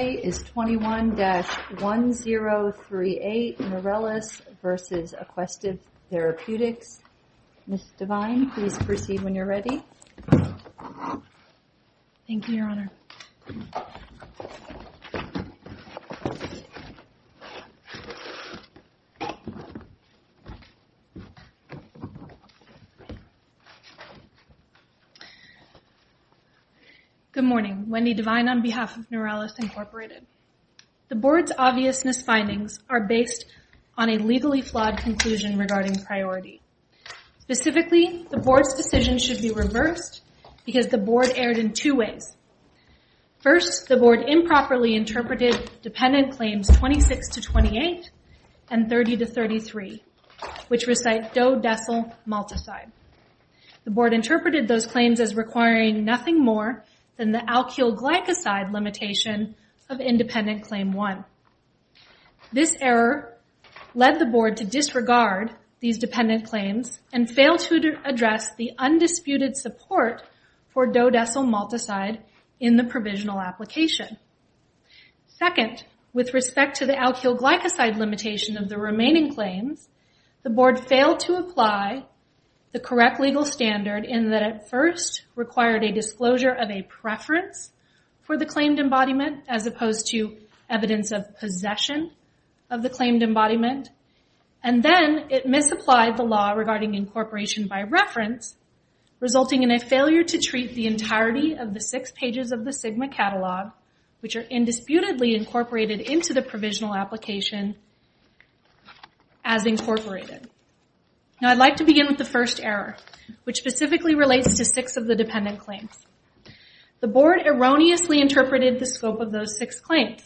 21-1038, Nurelis v. Aquestive Therapeutics, Inc. The Board's obvious misfindings are based on a legally flawed conclusion regarding priority. Specifically, the Board's decision should be reversed because the Board erred in two ways. First, the Board improperly interpreted dependent claims 26-28 and 30-33, which recite dodecylmaltoside. The Board interpreted those claims as requiring nothing more than the alkylglycoside limitation of independent claim 1. This error led the Board to disregard these dependent claims and fail to address the undisputed support for dodecylmaltoside in the provisional application. Second, with respect to the alkylglycoside limitation of the remaining claims, the Board failed to apply the correct legal standard in that it first required a disclosure of a preference for the claimed embodiment as opposed to evidence of possession of the claimed embodiment. Then, it misapplied the law regarding incorporation by reference, resulting in a failure to treat the entirety of the six pages of the SGMA Catalog, which are indisputably incorporated into the provisional application, as incorporated. Now, I'd like to begin with the first error, which specifically relates to six of the dependent claims. The Board erroneously interpreted the scope of those six claims.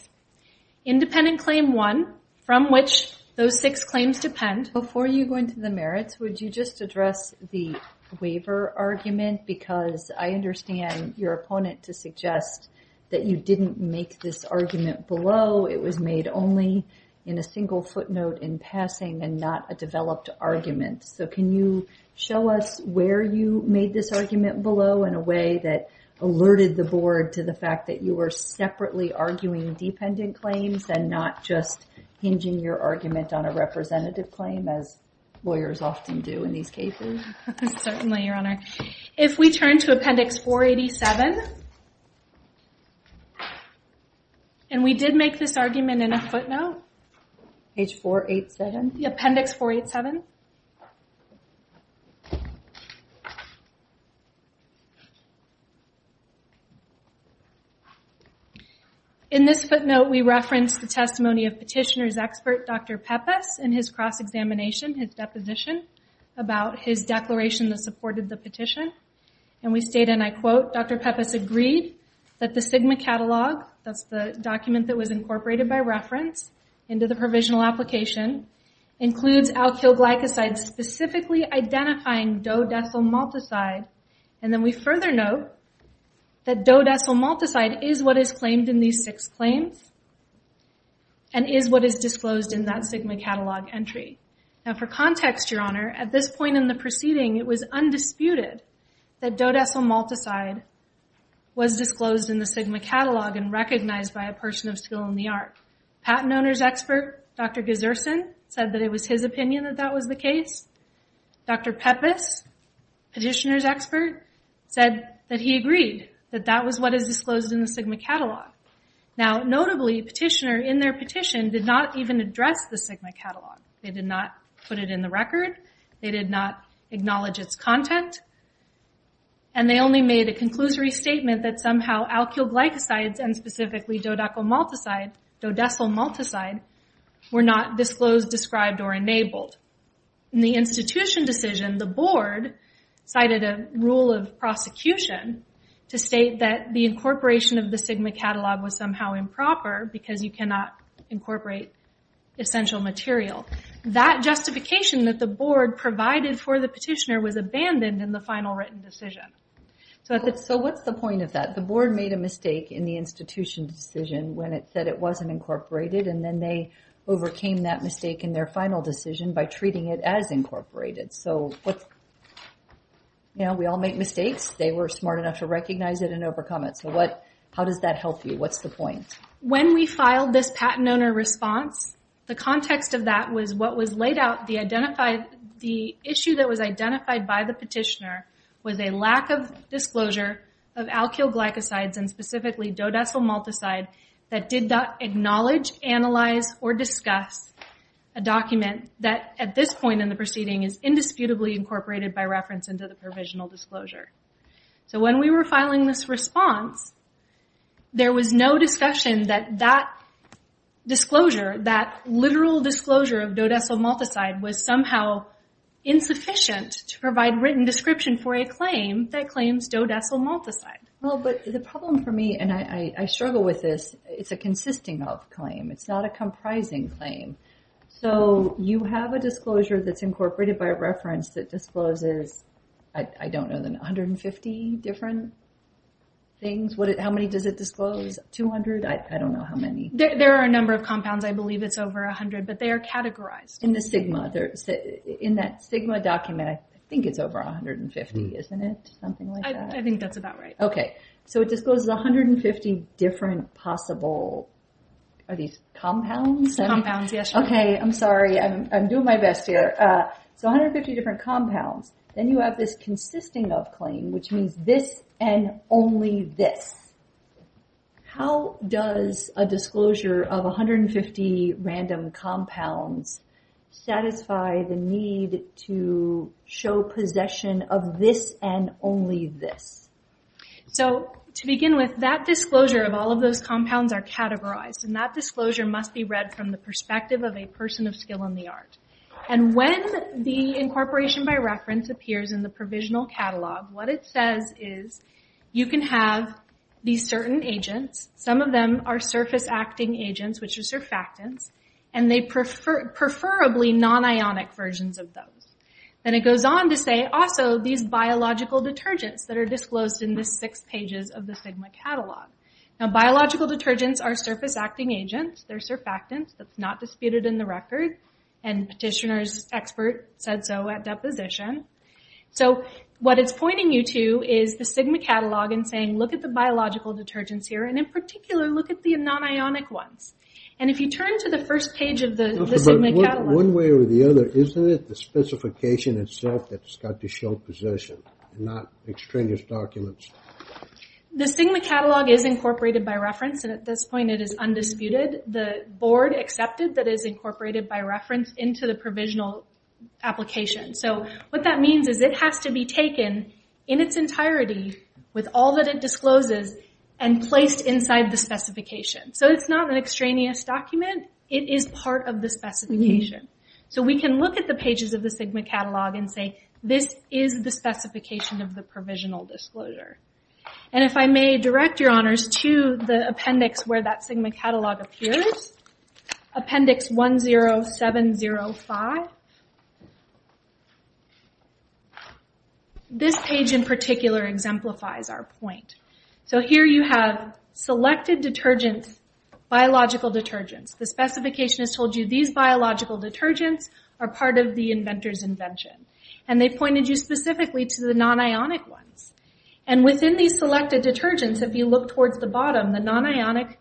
Independent claim 1, from which those six claims depend... Before you go into the merits, would you just address the waiver argument? Because I understand your opponent to suggest that you didn't make this argument below. It was made only in a single footnote in passing and not a developed argument. So, can you show us where you made this argument below in a way that alerted the Board to the fact that you were separately arguing dependent claims and not just hinging your argument on a representative claim, as lawyers often do in these cases? Certainly, Your Honor. If we turn to Appendix 487, and we did make this argument in a footnote. Page 487? Appendix 487. In this footnote, we reference the testimony of petitioner's expert, Dr. Peppas, in his cross-examination, his deposition, about his declaration that supported the petition. We state, and I quote, Dr. Peppas agreed that the SGMA catalog, that's the document that was incorporated by reference into the provisional application, includes alkyl glycosides specifically identifying dodecylmaltazide. Then we further note that dodecylmaltazide is what is claimed in these For context, Your Honor, at this point in the proceeding, it was undisputed that dodecylmaltazide was disclosed in the SGMA catalog and recognized by a person of skill in the art. Patent owner's expert, Dr. Gesersen, said that it was his opinion that that was the case. Dr. Peppas, petitioner's expert, said that he agreed that that was what is disclosed in the SGMA catalog. Now, notably, petitioner, in their petition, did not even address the dodecylmaltazide in the record. They did not acknowledge its content, and they only made a conclusory statement that somehow alkyl glycosides and specifically dodecylmaltazide were not disclosed, described, or enabled. In the institution decision, the board cited a rule of prosecution to state that the incorporation of the SGMA catalog was somehow improper because you cannot incorporate essential material. That justification that the board provided for the petitioner was abandoned in the final written decision. So what's the point of that? The board made a mistake in the institution decision when it said it wasn't incorporated, and then they overcame that mistake in their final decision by treating it as incorporated. We all make mistakes. They were smart enough to recognize it and overcome it. How does that help you? What's the point? When we filed this patent owner response, the context of that was what was laid out. The issue that was identified by the petitioner was a lack of disclosure of alkyl glycosides and specifically dodecylmaltazide that did not acknowledge, analyze, or discuss a document that, at this point in the proceeding, is indisputably incorporated by reference into the provisional disclosure. So when we were filing this response, there was no discussion that that disclosure, that literal disclosure of dodecylmaltazide, was somehow insufficient to provide written description for a claim that claims dodecylmaltazide. The problem for me, and I struggle with this, it's a consisting of claim. It's not a comprising claim. So you have a disclosure that's incorporated by reference that discloses, I don't know, 150 different things? How many does it disclose? 200? I don't know how many. There are a number of compounds. I believe it's over 100, but they are categorized. In the SGMA, in that SGMA document, I think it's over 150, isn't it? I think that's about right. Okay. So it discloses 150 different possible, are these compounds? Compounds, yes. Okay. I'm sorry. I'm doing my best here. So 150 different compounds. Then you have this consisting of claim, which means this and only this. How does a disclosure of 150 random compounds satisfy the need to show possession of this and only this? So to begin with, that disclosure of all of those compounds are categorized, and that disclosure must be read from the perspective of a person of skill in the art. When the incorporation by reference appears in the provisional catalog, what it says is you can have these certain agents. Some of them are surface-acting agents, which are surfactants, and preferably non-ionic versions of those. Then it goes on to say also these biological detergents that are disclosed in the six pages of the SGMA catalog. Now biological detergents are surface-acting agents. They're surfactants. That's not disputed in the record. Petitioner's expert said so at deposition. So what it's pointing you to is the SGMA catalog and saying, look at the biological detergents here, and in particular, look at the non-ionic ones. If you turn to the first page of the SGMA catalog... One way or the other, isn't it the specification itself that's got to show possession, not extraneous documents? The SGMA catalog is incorporated by reference, and at this point it is undisputed. The board accepted that it is incorporated by reference into the provisional application. What that means is it has to be taken in its entirety with all that it discloses and placed inside the specification. It's not an extraneous document. It is part of the specification. We can look at the pages of the SGMA catalog and say, this is the specification of the provisional disclosure. If I may direct your honors to the appendix where that SGMA catalog appears, appendix 10705. This page in particular exemplifies our point. Here you have selected detergents, biological detergents. The specification has told you these biological detergents are part of the inventor's invention. They pointed you specifically to the non-ionic ones. Within these selected detergents, if you look towards the bottom, the non-ionic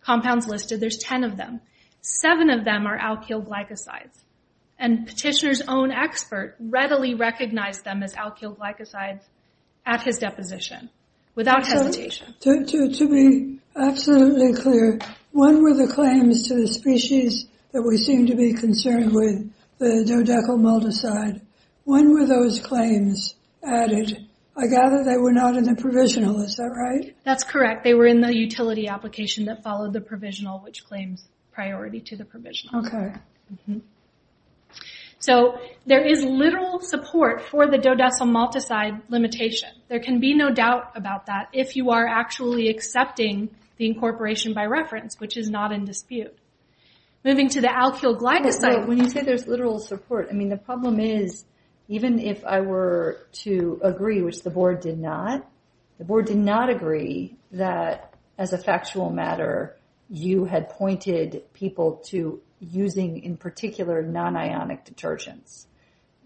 compounds listed, there's 10 of them. Seven of them are alkyl glycosides. Petitioner's own expert readily recognized them as alkyl glycosides at his deposition, without hesitation. To be absolutely clear, when were the claims to the species that we seem to be concerned with, the dodecylmaltoside, when were those claims added? I gather they were not in the provisional. Is that right? That's correct. They were in the utility application that followed the provisional, which claims priority to the provisional. There is little support for the dodecylmaltoside limitation. There can be no doubt about that. If you are actually accepting the incorporation by reference, which is not in dispute. Moving to the alkyl glycoside... When you say there's literal support, the problem is, even if I were to agree, which the board did not, the board did not agree that, as a factual matter, you had pointed people to using, in particular, non-ionic detergents.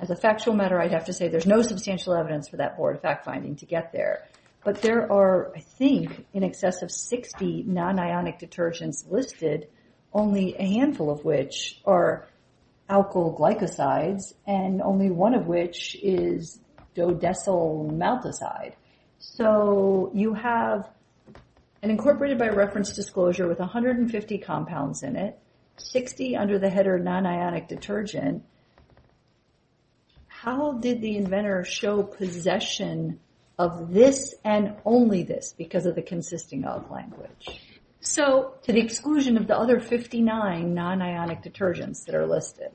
As a factual matter, I'd have to say there's no substantial evidence for that board fact-finding to get there. But there are, I think, in excess of 60 non-ionic detergents listed, only a handful of which are alkyl glycosides, and only one of which is dodecylmaltoside. So, you have an incorporated by reference disclosure with 150 compounds in it, 60 under the header non-ionic detergent. How did the inventor show possession of this and only this, because of the consisting of language? To the exclusion of the other 59 non-ionic detergents that are listed.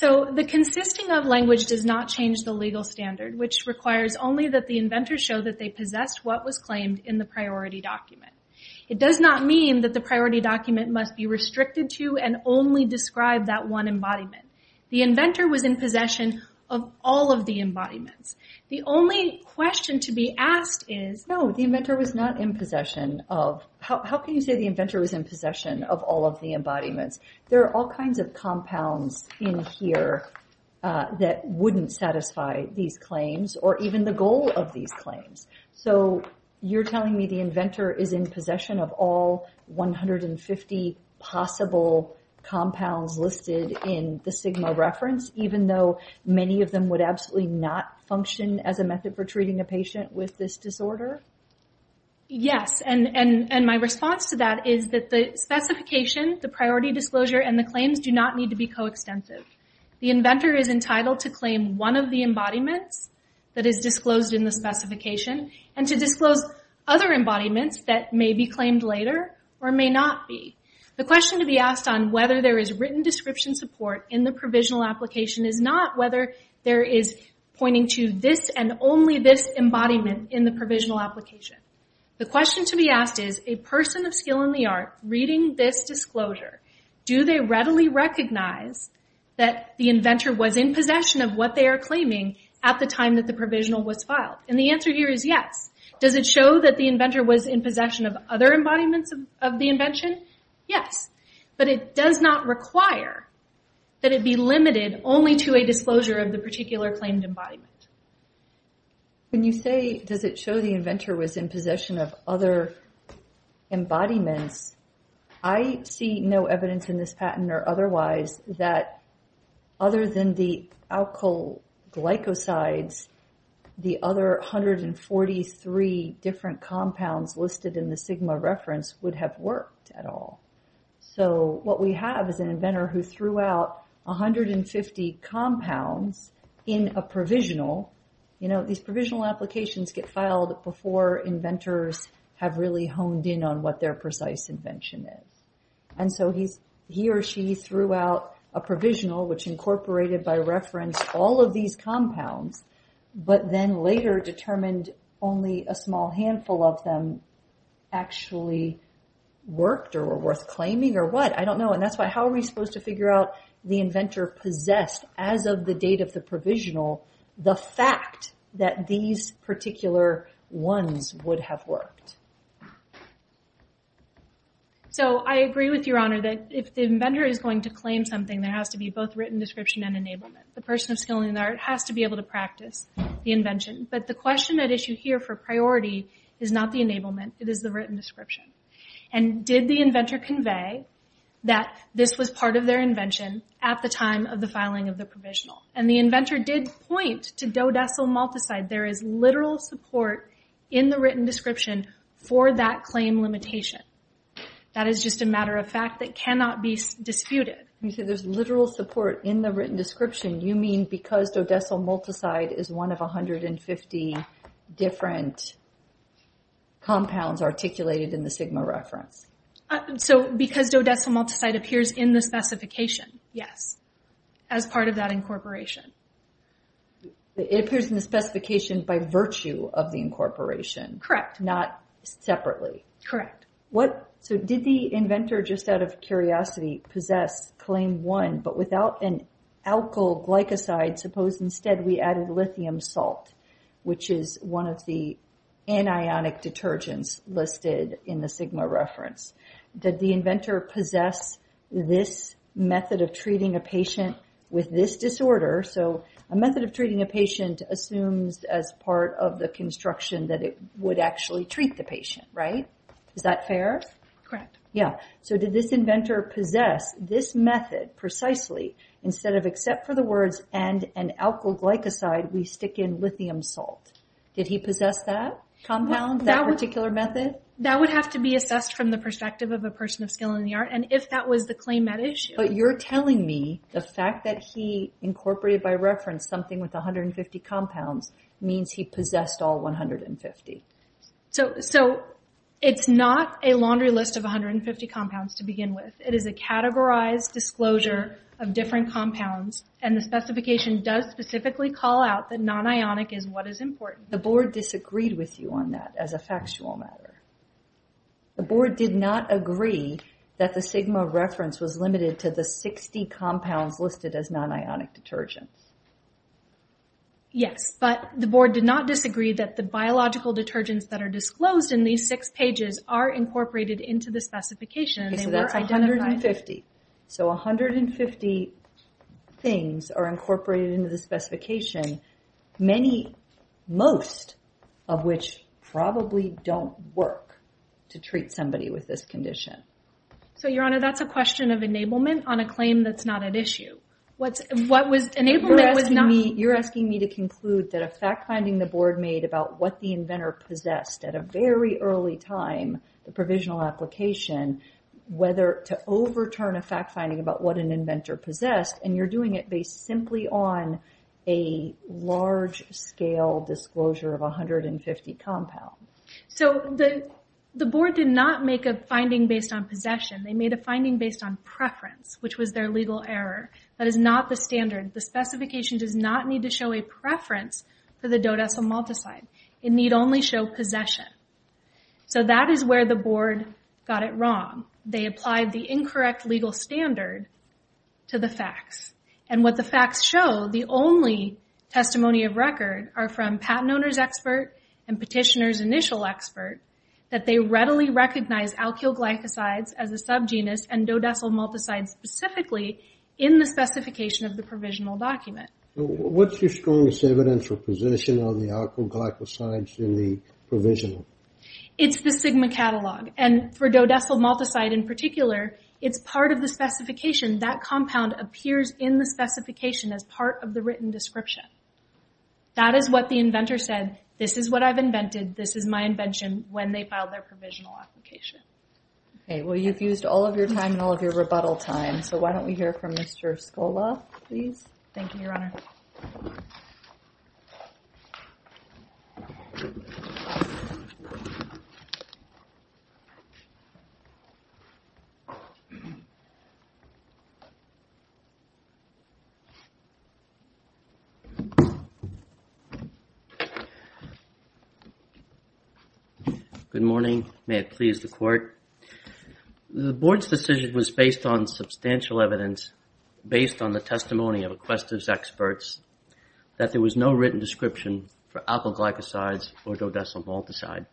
The consisting of language does not change the legal standard, which requires only that the inventor show that they possessed what was claimed in the priority document. It does not mean that the priority document must be restricted to and only describe that one embodiment. The inventor was in possession of all of the embodiments. The only question to be asked is... No, the inventor was not in possession of... How can you say the inventor was in possession of all of the embodiments? There are all kinds of compounds in here that wouldn't satisfy these claims, or even the goal of these claims. So, you're telling me the inventor is in possession of all 150 possible compounds listed in the SGMA reference, even though many of them would absolutely not function as a method for treating a patient with this disorder? Yes, and my response to that is that the specification, the priority disclosure, and the claims do not need to be co-extensive. The inventor is entitled to claim one of the embodiments that is disclosed in the specification, and to disclose other embodiments that may be claimed later, or may not be. The question to be asked on whether there is written description support in the provisional application is not whether there is pointing to this and only this embodiment in the provisional application. The question to be asked is, a person of skill in the art reading this disclosure, do they readily recognize that the inventor was in possession of what they are claiming at the time that the provisional was filed? And the answer here is yes. Does it show that the inventor was in possession of other embodiments of the invention? Yes, but it does not require that it be limited only to a disclosure of the particular claimed embodiment. When you say, does it show the inventor was in possession of other embodiments, I see no evidence in this patent or otherwise that other than the alkyl glycosides, the other 143 different compounds listed in the SGMA reference would have worked at all. So what we have is an inventor who threw out 150 compounds in a provisional. These provisional applications get filed before inventors have really honed in on what their precise invention is. And so he or she threw out a provisional which incorporated by reference all of these compounds but then later determined only a small handful of them actually worked or were worth claiming or what. I don't know. And that's why, how are we supposed to figure out the inventor possessed as of the date of the provisional the fact that these particular ones would have worked? So I agree with Your Honor that if the inventor is going to claim something, there has to be both written description and enablement. The person of skill in the art has to be able to practice the invention. But the question at issue here for priority is not the enablement, it is the written description. And did the inventor convey that this was part of their invention at the time of the filing of the provisional? And the inventor did point to dodecylmaltazide. There is literal support in the written description for that claim limitation. That is just a matter of fact that cannot be disputed. You said there's literal support in the written description. You mean because dodecylmaltazide is one of 150 different compounds articulated in the SGMA reference? So because dodecylmaltazide appears in the specification, yes, as part of that incorporation. It appears in the specification by virtue of the incorporation. Correct. Not separately. Correct. So did the inventor just out of curiosity possess claim one, but without an alkyl glycoside, suppose instead we added lithium salt, which is one of the anionic detergents listed in the SGMA reference. Did the inventor possess this method of treating a patient with this disorder? So a method of treating a patient assumes as part of the construction that it would actually treat the patient, right? Is that fair? Correct. Yeah. So did this inventor possess this method precisely? Instead of except for the words and an alkyl glycoside, we stick in lithium salt. Did he possess that compound, that particular method? That would have to be assessed from the perspective of a person of skill in the art. And if that was the claim at issue— But you're telling me the fact that he incorporated by reference something with 150 compounds means he possessed all 150. So it's not a laundry list of 150 compounds to begin with. It is a categorized disclosure of different compounds, and the specification does specifically call out that non-ionic is what is important. The board disagreed with you on that as a factual matter. The board did not agree that the SGMA reference was limited to the 60 compounds listed as non-ionic detergents. Yes, but the board did not disagree that the biological detergents that are disclosed in these six pages are incorporated into the specification. So that's 150. So 150 things are incorporated into the specification, most of which probably don't work to treat somebody with this condition. So, Your Honor, that's a question of enablement on a claim that's not at issue. You're asking me to conclude that a fact-finding the board made about what the inventor possessed at a very early time, the provisional application, whether to overturn a fact-finding about what an inventor possessed, and you're doing it based simply on a large-scale disclosure of 150 compounds. So the board did not make a finding based on possession. They made a finding based on preference, which was their legal error. That is not the standard. The specification does not need to show a preference for the dodecylmaltazide. It need only show possession. So that is where the board got it wrong. They applied the incorrect legal standard to the facts, and what the facts show, the only testimony of record are from patent owner's expert and petitioner's initial expert, that they readily recognize alkylglycosides as a subgenus and dodecylmaltazide specifically in the specification of the provisional document. What's your strongest evidence for possession of the alkylglycosides in the provisional? It's the Sigma catalog, and for dodecylmaltazide in particular, it's part of the specification. That compound appears in the specification as part of the written description. That is what the inventor said. This is what I've invented. This is my invention when they filed their provisional application. Okay. Well, you've used all of your time and all of your rebuttal time, so why don't we hear from Mr. Scola, please? Thank you, Your Honor. Good morning. May it please the Court. The Board's decision was based on substantial evidence, based on the testimony of inquestors' experts, that there was no written description for alkylglycosides or dodecylmaltazide.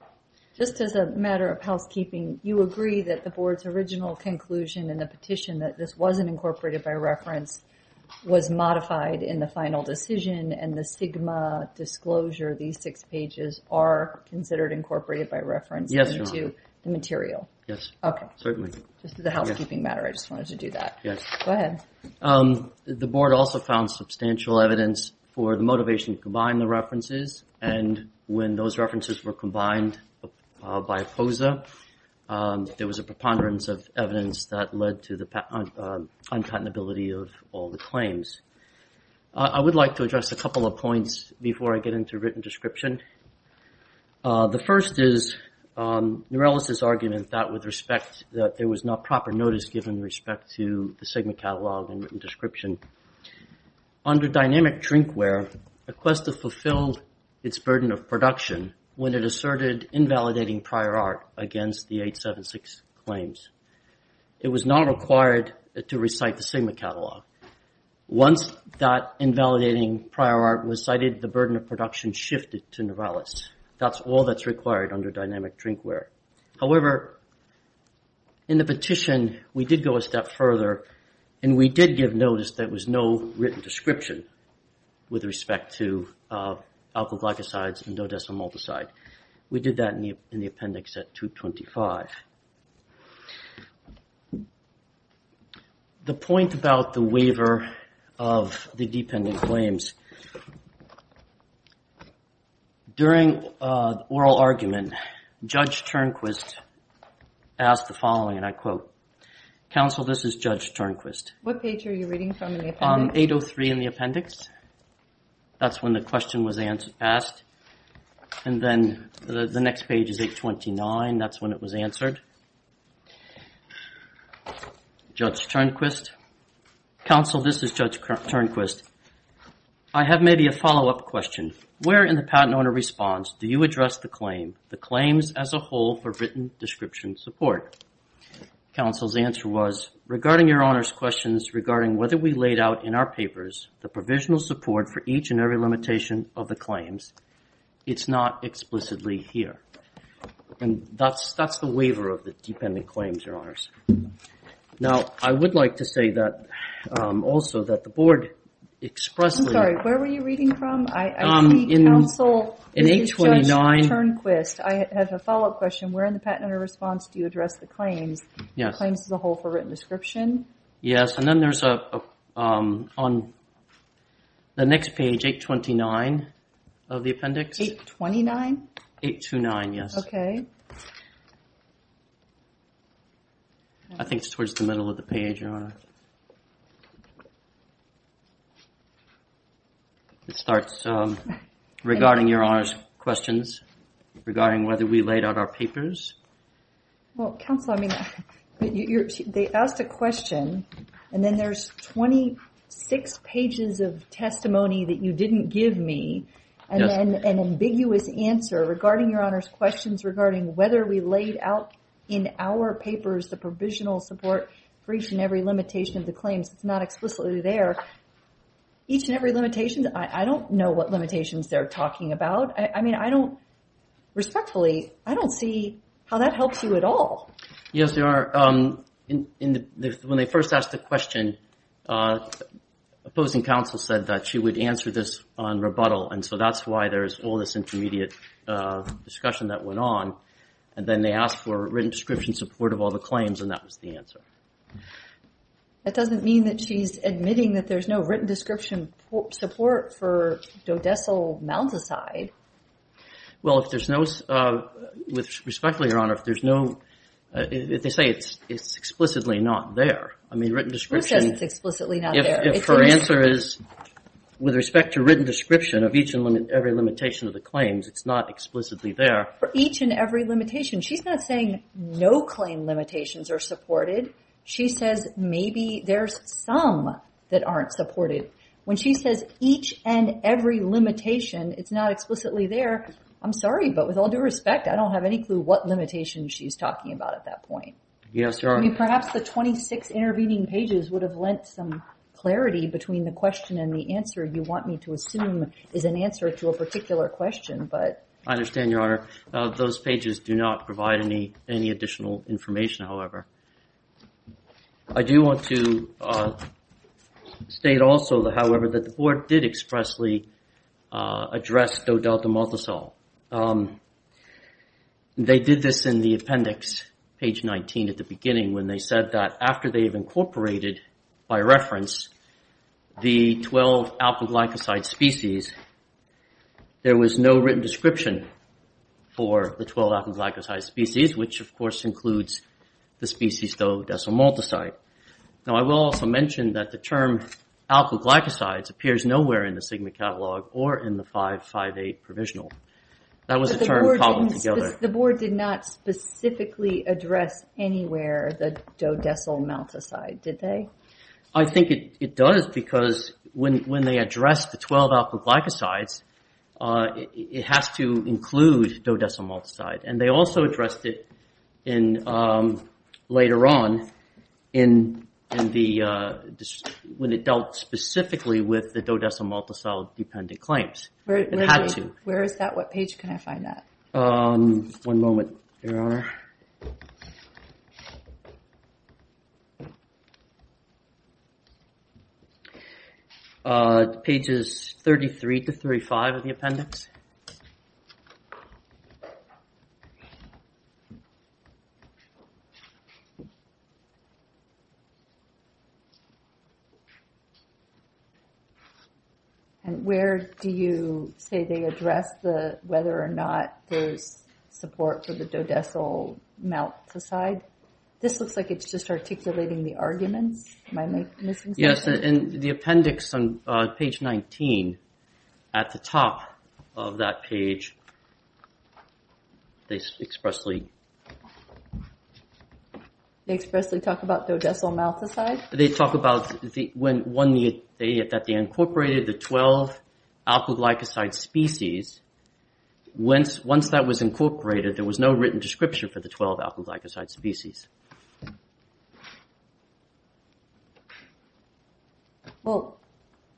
Just as a matter of housekeeping, you agree that the Board's original conclusion in the petition that this wasn't incorporated by reference was modified in the final decision, and the Sigma disclosure, these six pages, are considered incorporated by reference into the material? Yes, Your Honor. Okay. Certainly. Just as a housekeeping matter, I just wanted to do that. Yes. Go ahead. The Board also found substantial evidence for the motivation to combine the references, and when those references were combined by POSA, there was a preponderance of evidence that led to the uncatenability of all the claims. I would like to address a couple of points before I get into written description. The first is Norellis' argument that with respect, that there was not proper notice given with respect to the Sigma catalog and written description. Under dynamic drinkware, Equesta fulfilled its burden of production when it asserted invalidating prior art against the 876 claims. It was not required to recite the Sigma catalog. Once that invalidating prior art was cited, the burden of production shifted to Norellis. That's all that's required under dynamic drinkware. However, in the petition, we did go a step further, and we did give notice that there was no written description with respect to alkylglycosides and dodecylmaltoside. We did that in the appendix at 225. The point about the waiver of the dependent claims. During oral argument, Judge Turnquist asked the following, and I quote, Counsel, this is Judge Turnquist. 803 in the appendix, that's when the question was asked. And then the next page is 829, that's when it was answered. Judge Turnquist. Counsel, this is Judge Turnquist. I have maybe a follow up question. Where in the patent owner response do you address the claim, the claims as a whole for written description support? Counsel's answer was, regarding your Honor's questions regarding whether we laid out in our papers the provisional support for each and every limitation of the claims, it's not explicitly here. Now, I would like to say that also that the board expressed... I'm sorry, where were you reading from? I see Counsel, this is Judge Turnquist. I have a follow up question. Where in the patent owner response do you address the claims, the claims as a whole for written description? Yes, and then there's on the next page, 829 of the appendix. 829? 829, yes. I think it's towards the middle of the page, Your Honor. It starts, regarding your Honor's questions, regarding whether we laid out our papers. Well, Counsel, I mean, they asked a question, and then there's 26 pages of testimony that you didn't give me, and then an ambiguous answer regarding your Honor's questions regarding whether we laid out in our papers the provisional support for each and every limitation of the claims. It's not explicitly there. Each and every limitation, I don't know what limitations they're talking about. Respectfully, I don't see how that helps you at all. Yes, Your Honor. When they first asked the question, opposing counsel said that she would answer this on rebuttal, and so that's why there's all this intermediate discussion that went on, and then they asked for written description support of all the claims, and that was the answer. That doesn't mean that she's admitting that there's no written description support for dodecile mounds aside. Well, if there's no, respectfully, Your Honor, they say it's explicitly not there. I mean, written description. Who says it's explicitly not there? If her answer is, with respect to written description of each and every limitation of the claims, it's not explicitly there. For each and every limitation. She's not saying no claim limitations are supported. She says maybe there's some that aren't supported. When she says each and every limitation, it's not explicitly there, I'm sorry, but with all due respect, I don't have any clue what limitations she's talking about at that point. Yes, Your Honor. I mean, perhaps the 26 intervening pages would have lent some clarity between the question and the answer you want me to assume is an answer to a particular question, but... I understand, Your Honor. Those pages do not provide any additional information, however. I do want to state also, however, that the Board did expressly address dodeltamaltasol. They did this in the appendix, page 19 at the beginning, when they said that after they've incorporated, by reference, the 12-alpha-glycoside species, there was no written description for the 12-alpha-glycoside species, which, of course, includes the species dodeltamaltaside. Now, I will also mention that the term alpha-glycosides appears nowhere in the SGMA catalog or in the 558 provisional. That was a term cobbled together. The Board did not specifically address anywhere the dodeltamaltaside, did they? I think it does, because when they address the 12-alpha-glycosides, it has to include dodeltamaltaside. They also addressed it later on, when it dealt specifically with the dodeltamaltaside-dependent claims. Where is that? What page can I find that? One moment, Your Honor. Pages 33 to 35 of the appendix. And where do you say they address whether or not there's support for the dodeltamaltaside? This looks like it's just articulating the arguments. Am I missing something? Yes, in the appendix on page 19, at the top of that page, they expressly talk about dodeltamaltaside. They talk about that they incorporated the 12-alpha-glycoside species. Once that was incorporated, there was no written description for the 12-alpha-glycoside species.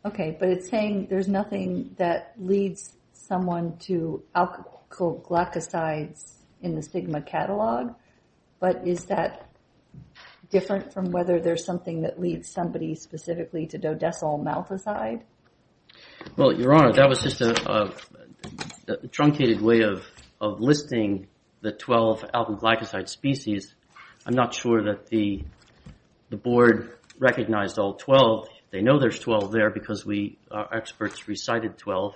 Okay, but it's saying there's nothing that leads someone to alkylglycosides in the stigma catalog. But is that different from whether there's something that leads somebody specifically to dodeltamaltaside? Your Honor, that was just a truncated way of listing the 12-alpha-glycoside species. I'm not sure that the Board recognized all 12. They know there's 12 there because our experts recited 12.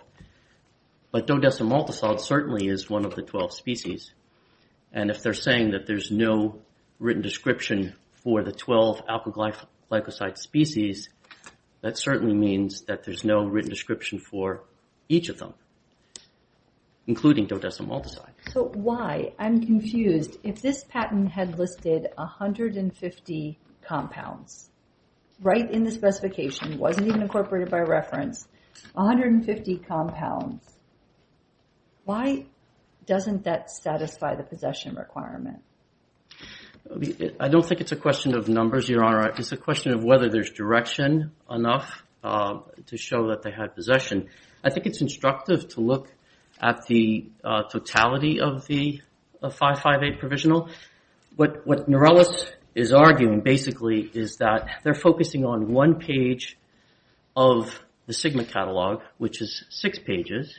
But dodeltamaltaside certainly is one of the 12 species. And if they're saying that there's no written description for the 12-alpha-glycoside species, that certainly means that there's no written description for each of them, including dodeltamaltaside. So why, I'm confused, if this patent had listed 150 compounds right in the specification, wasn't even incorporated by reference, 150 compounds, why doesn't that satisfy the possession requirement? I don't think it's a question of numbers, Your Honor. It's a question of whether there's direction enough to show that they had possession. I think it's instructive to look at the totality of the 558 provisional. What Norellis is arguing, basically, is that they're focusing on one page of the Sigma catalog, which is six pages,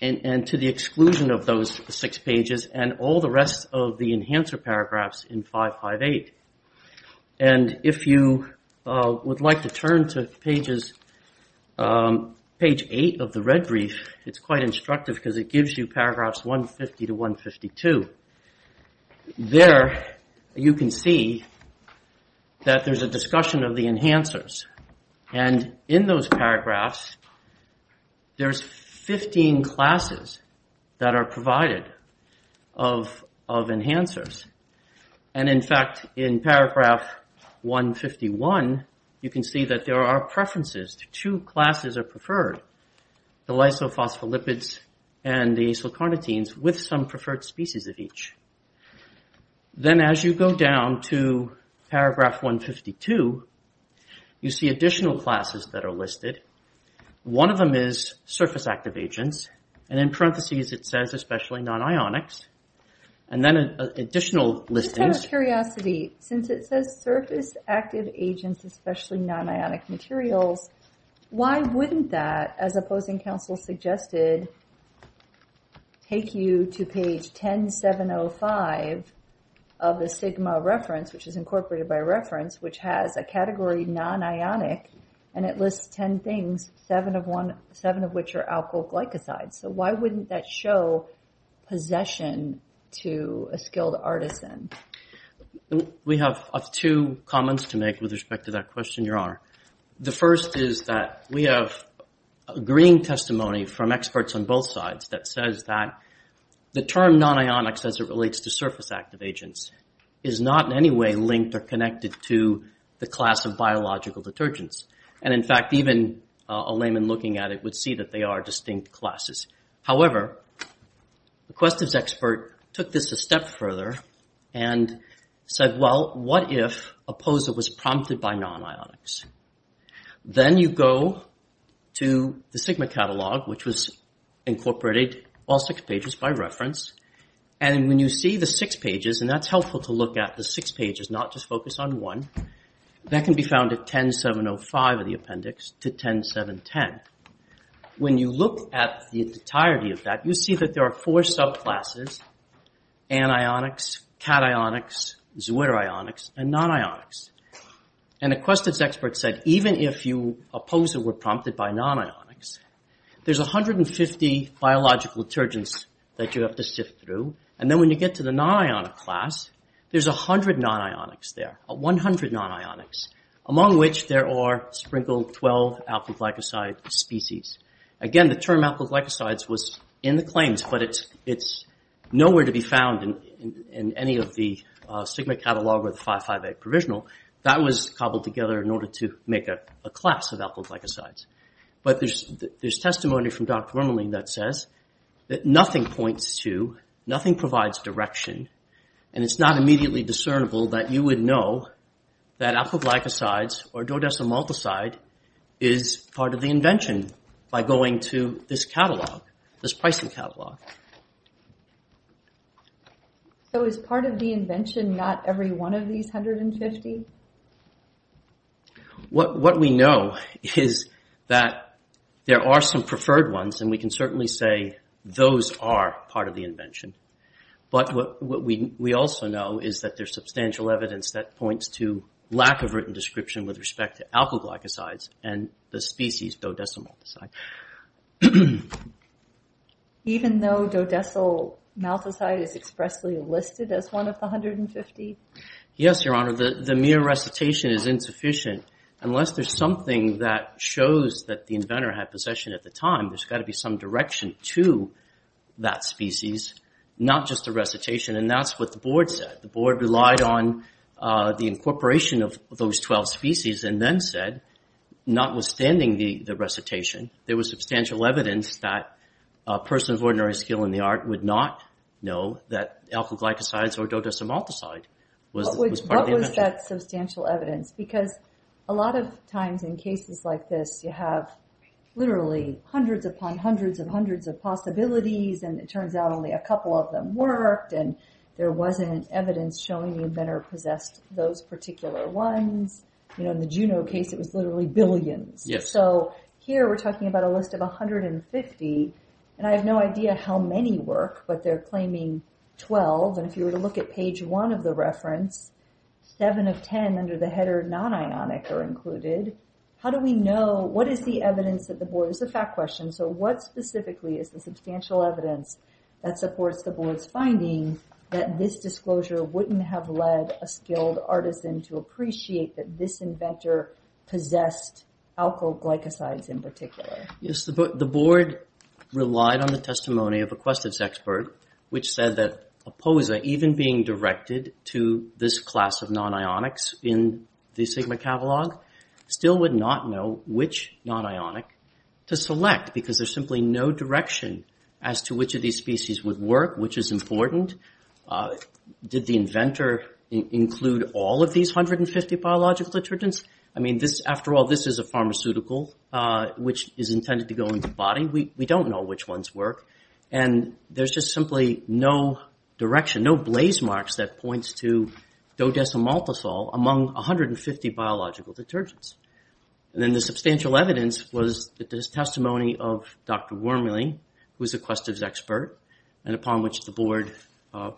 and to the exclusion of those six pages, and all the rest of the enhancer paragraphs in 558. And if you would like to turn to page eight of the red brief, it's quite instructive, because it gives you paragraphs 150 to 152. There, you can see that there's a discussion of the enhancers. And in those paragraphs, there's 15 classes that are provided of enhancers. And in fact, in paragraph 151, you can see that there are preferences. Two classes are preferred, the lysophospholipids and the acylcarnitines, with some preferred species of each. Then as you go down to paragraph 152, you see additional classes that are listed. One of them is surface active agents, and in parentheses, it says especially non-ionics. And then additional listings. Just out of curiosity, since it says surface active agents, especially non-ionic materials, why wouldn't that, as opposing counsel suggested, take you to page 10705 of the Sigma reference, which is incorporated by reference, which has a category non-ionic, and it lists 10 things, seven of which are alkyl glycosides. So why wouldn't that show possession to a skilled artisan? We have two comments to make with respect to that question, Your Honor. The first is that we have agreeing testimony from experts on both sides that says that the term non-ionics as it relates to surface active agents is not in any way linked or connected to the class of biological detergents, and in fact, even a layman looking at it would see that they are distinct classes. However, the Questiv's expert took this a step further and said, well, what if a POSA was prompted by non-ionics? Then you go to the Sigma catalog, which was incorporated, all six pages by reference, and when you see the six pages, and that's helpful to look at the six pages, not just focus on one, that can be found at 10705 of the appendix to 10710. When you look at the entirety of that, you see that there are four subclasses, anionics, cationics, zwitterionics, and non-ionics. And the Questiv's expert said, even if a POSA were prompted by non-ionics, there's 150 biological detergents that you have to sift through, and then when you get to the non-ionic class, there's 100 non-ionics there, among which there are sprinkled 12 alkyl glycosides species. Again, the term alkyl glycosides was in the claims, but it's nowhere to be found in any of the Sigma catalog or the 5.5A provisional. That was cobbled together in order to make a class of alkyl glycosides. But there's testimony from Dr. Vermelin that says that nothing points to, nothing provides direction, and it's not immediately discernible that you would know that alkyl glycosides or dodecylmaltoside is part of the invention by going to this catalog, this pricing catalog. So is part of the invention not every one of these 150? What we know is that there are some preferred ones, and we can certainly say those are part of the invention. But what we also know is that there's substantial evidence that points to lack of written description with respect to alkyl glycosides and the species dodecylmaltoside. Even though dodecylmaltoside is expressly listed as one of the 150? Yes, Your Honor. The mere recitation is insufficient unless there's something that shows that the inventor had possession at the time. There's got to be some direction to that species, not just a recitation, and that's what the board said. The board relied on the incorporation of those 12 species and then said, notwithstanding the recitation, there was substantial evidence that a person of ordinary skill in the art would not know that alkyl glycosides or dodecylmaltoside was part of the invention. Because a lot of times in cases like this you have literally hundreds upon hundreds of hundreds of possibilities and it turns out only a couple of them worked and there wasn't evidence showing the inventor possessed those particular ones. In the Juno case it was literally billions. So here we're talking about a list of 150, and I have no idea how many work, but they're claiming 12. And if you were to look at page 1 of the reference, 7 of 10 under the header non-ionic are included. How do we know, what is the evidence that the board, this is a fact question, so what specifically is the substantial evidence that supports the board's finding that this disclosure wouldn't have led a skilled artisan to appreciate that this inventor possessed alkyl glycosides in particular? Yes, the board relied on the testimony of a Questives expert, which said that a posa even being directed to this class of non-ionics in the Sigma catalog still would not know which non-ionic to select because there's simply no direction as to which of these species would work, which is important. Did the inventor include all of these 150 biological detergents? I mean, after all, this is a pharmaceutical which is intended to go into the body. We don't know which ones work. And there's just simply no direction, no blaze marks that points to dodecymaltosol among 150 biological detergents. And then the substantial evidence was the testimony of Dr. Wormley, who was a Questives expert, and upon which the board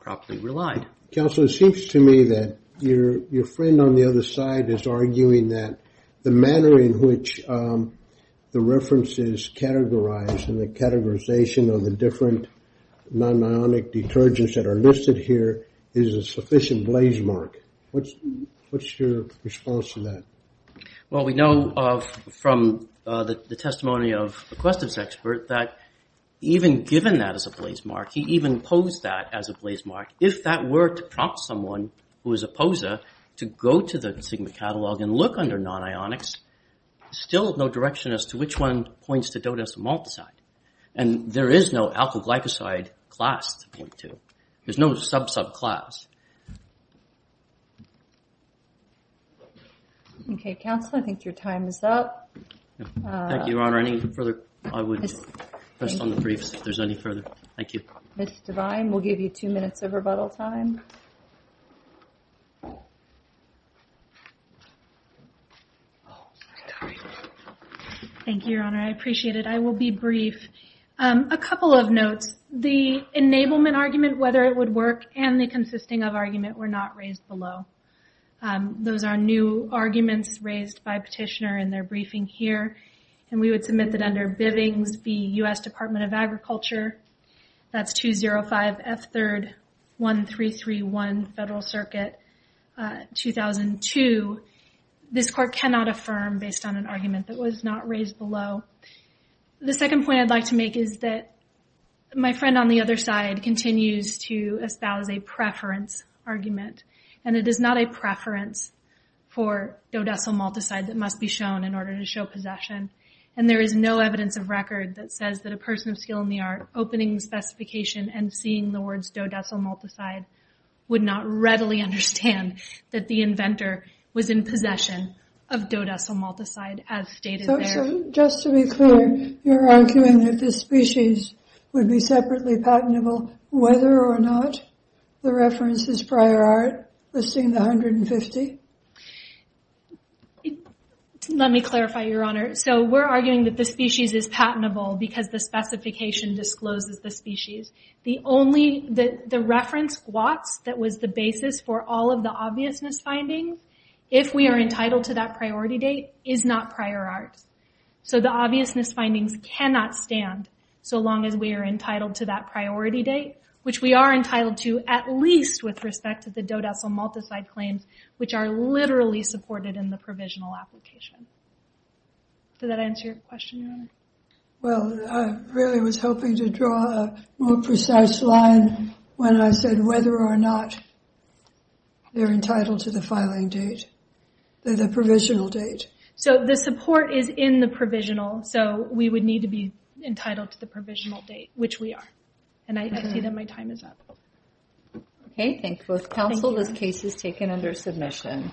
properly relied. Counsel, it seems to me that your friend on the other side is arguing that the manner in which the reference is categorized and the categorization of the different non-ionic detergents that are listed here is a sufficient blaze mark. What's your response to that? Well, we know from the testimony of a Questives expert that even given that as a blaze mark, he even posed that as a blaze mark. If that were to prompt someone who is a poser to go to the Sigma catalog and look under non-ionics, still no direction as to which one points to dodecymaltoside. And there is no alkyl glycoside class to point to. There's no sub-sub class. Okay, Counsel, I think your time is up. Ms. Devine will give you two minutes of rebuttal time. Thank you, Your Honor. I appreciate it. I will be brief. A couple of notes. The enablement argument, whether it would work, and the consisting of argument were not raised below. Those are new arguments raised by Petitioner in their briefing here. And we would submit that under Bivings v. U.S. Department of Agriculture, that's 205 F. 3rd, 1331 Federal Circuit, 2002. This court cannot affirm based on an argument that was not raised below. The second point I'd like to make is that my friend on the other side continues to espouse a preference argument. And it is not a preference for dodecymaltoside that must be shown in order to show possession. And there is no evidence of record that says that a person of skill in the art opening the specification and seeing the words dodecymaltoside would not readily understand that the inventor was in possession of dodecymaltoside as stated there. So just to be clear, you're arguing that this species would be separately patentable whether or not the references prior art listing the 150? Let me clarify, Your Honor. So we're arguing that the species is patentable because the specification discloses the species. The reference GWATS that was the basis for all of the obviousness findings, if we are entitled to that priority date, is not prior art. So the obviousness findings cannot stand so long as we are entitled to that priority date, which we are entitled to at least with respect to the dodecymaltoside claims which are literally supported in the provisional application. Does that answer your question, Your Honor? Well, I really was hoping to draw a more precise line when I said whether or not they're entitled to the filing date, the provisional date. So the support is in the provisional, so we would need to be entitled to the provisional date, which we are, and I see that my time is up. Okay, thank you both. Counsel, this case is taken under submission.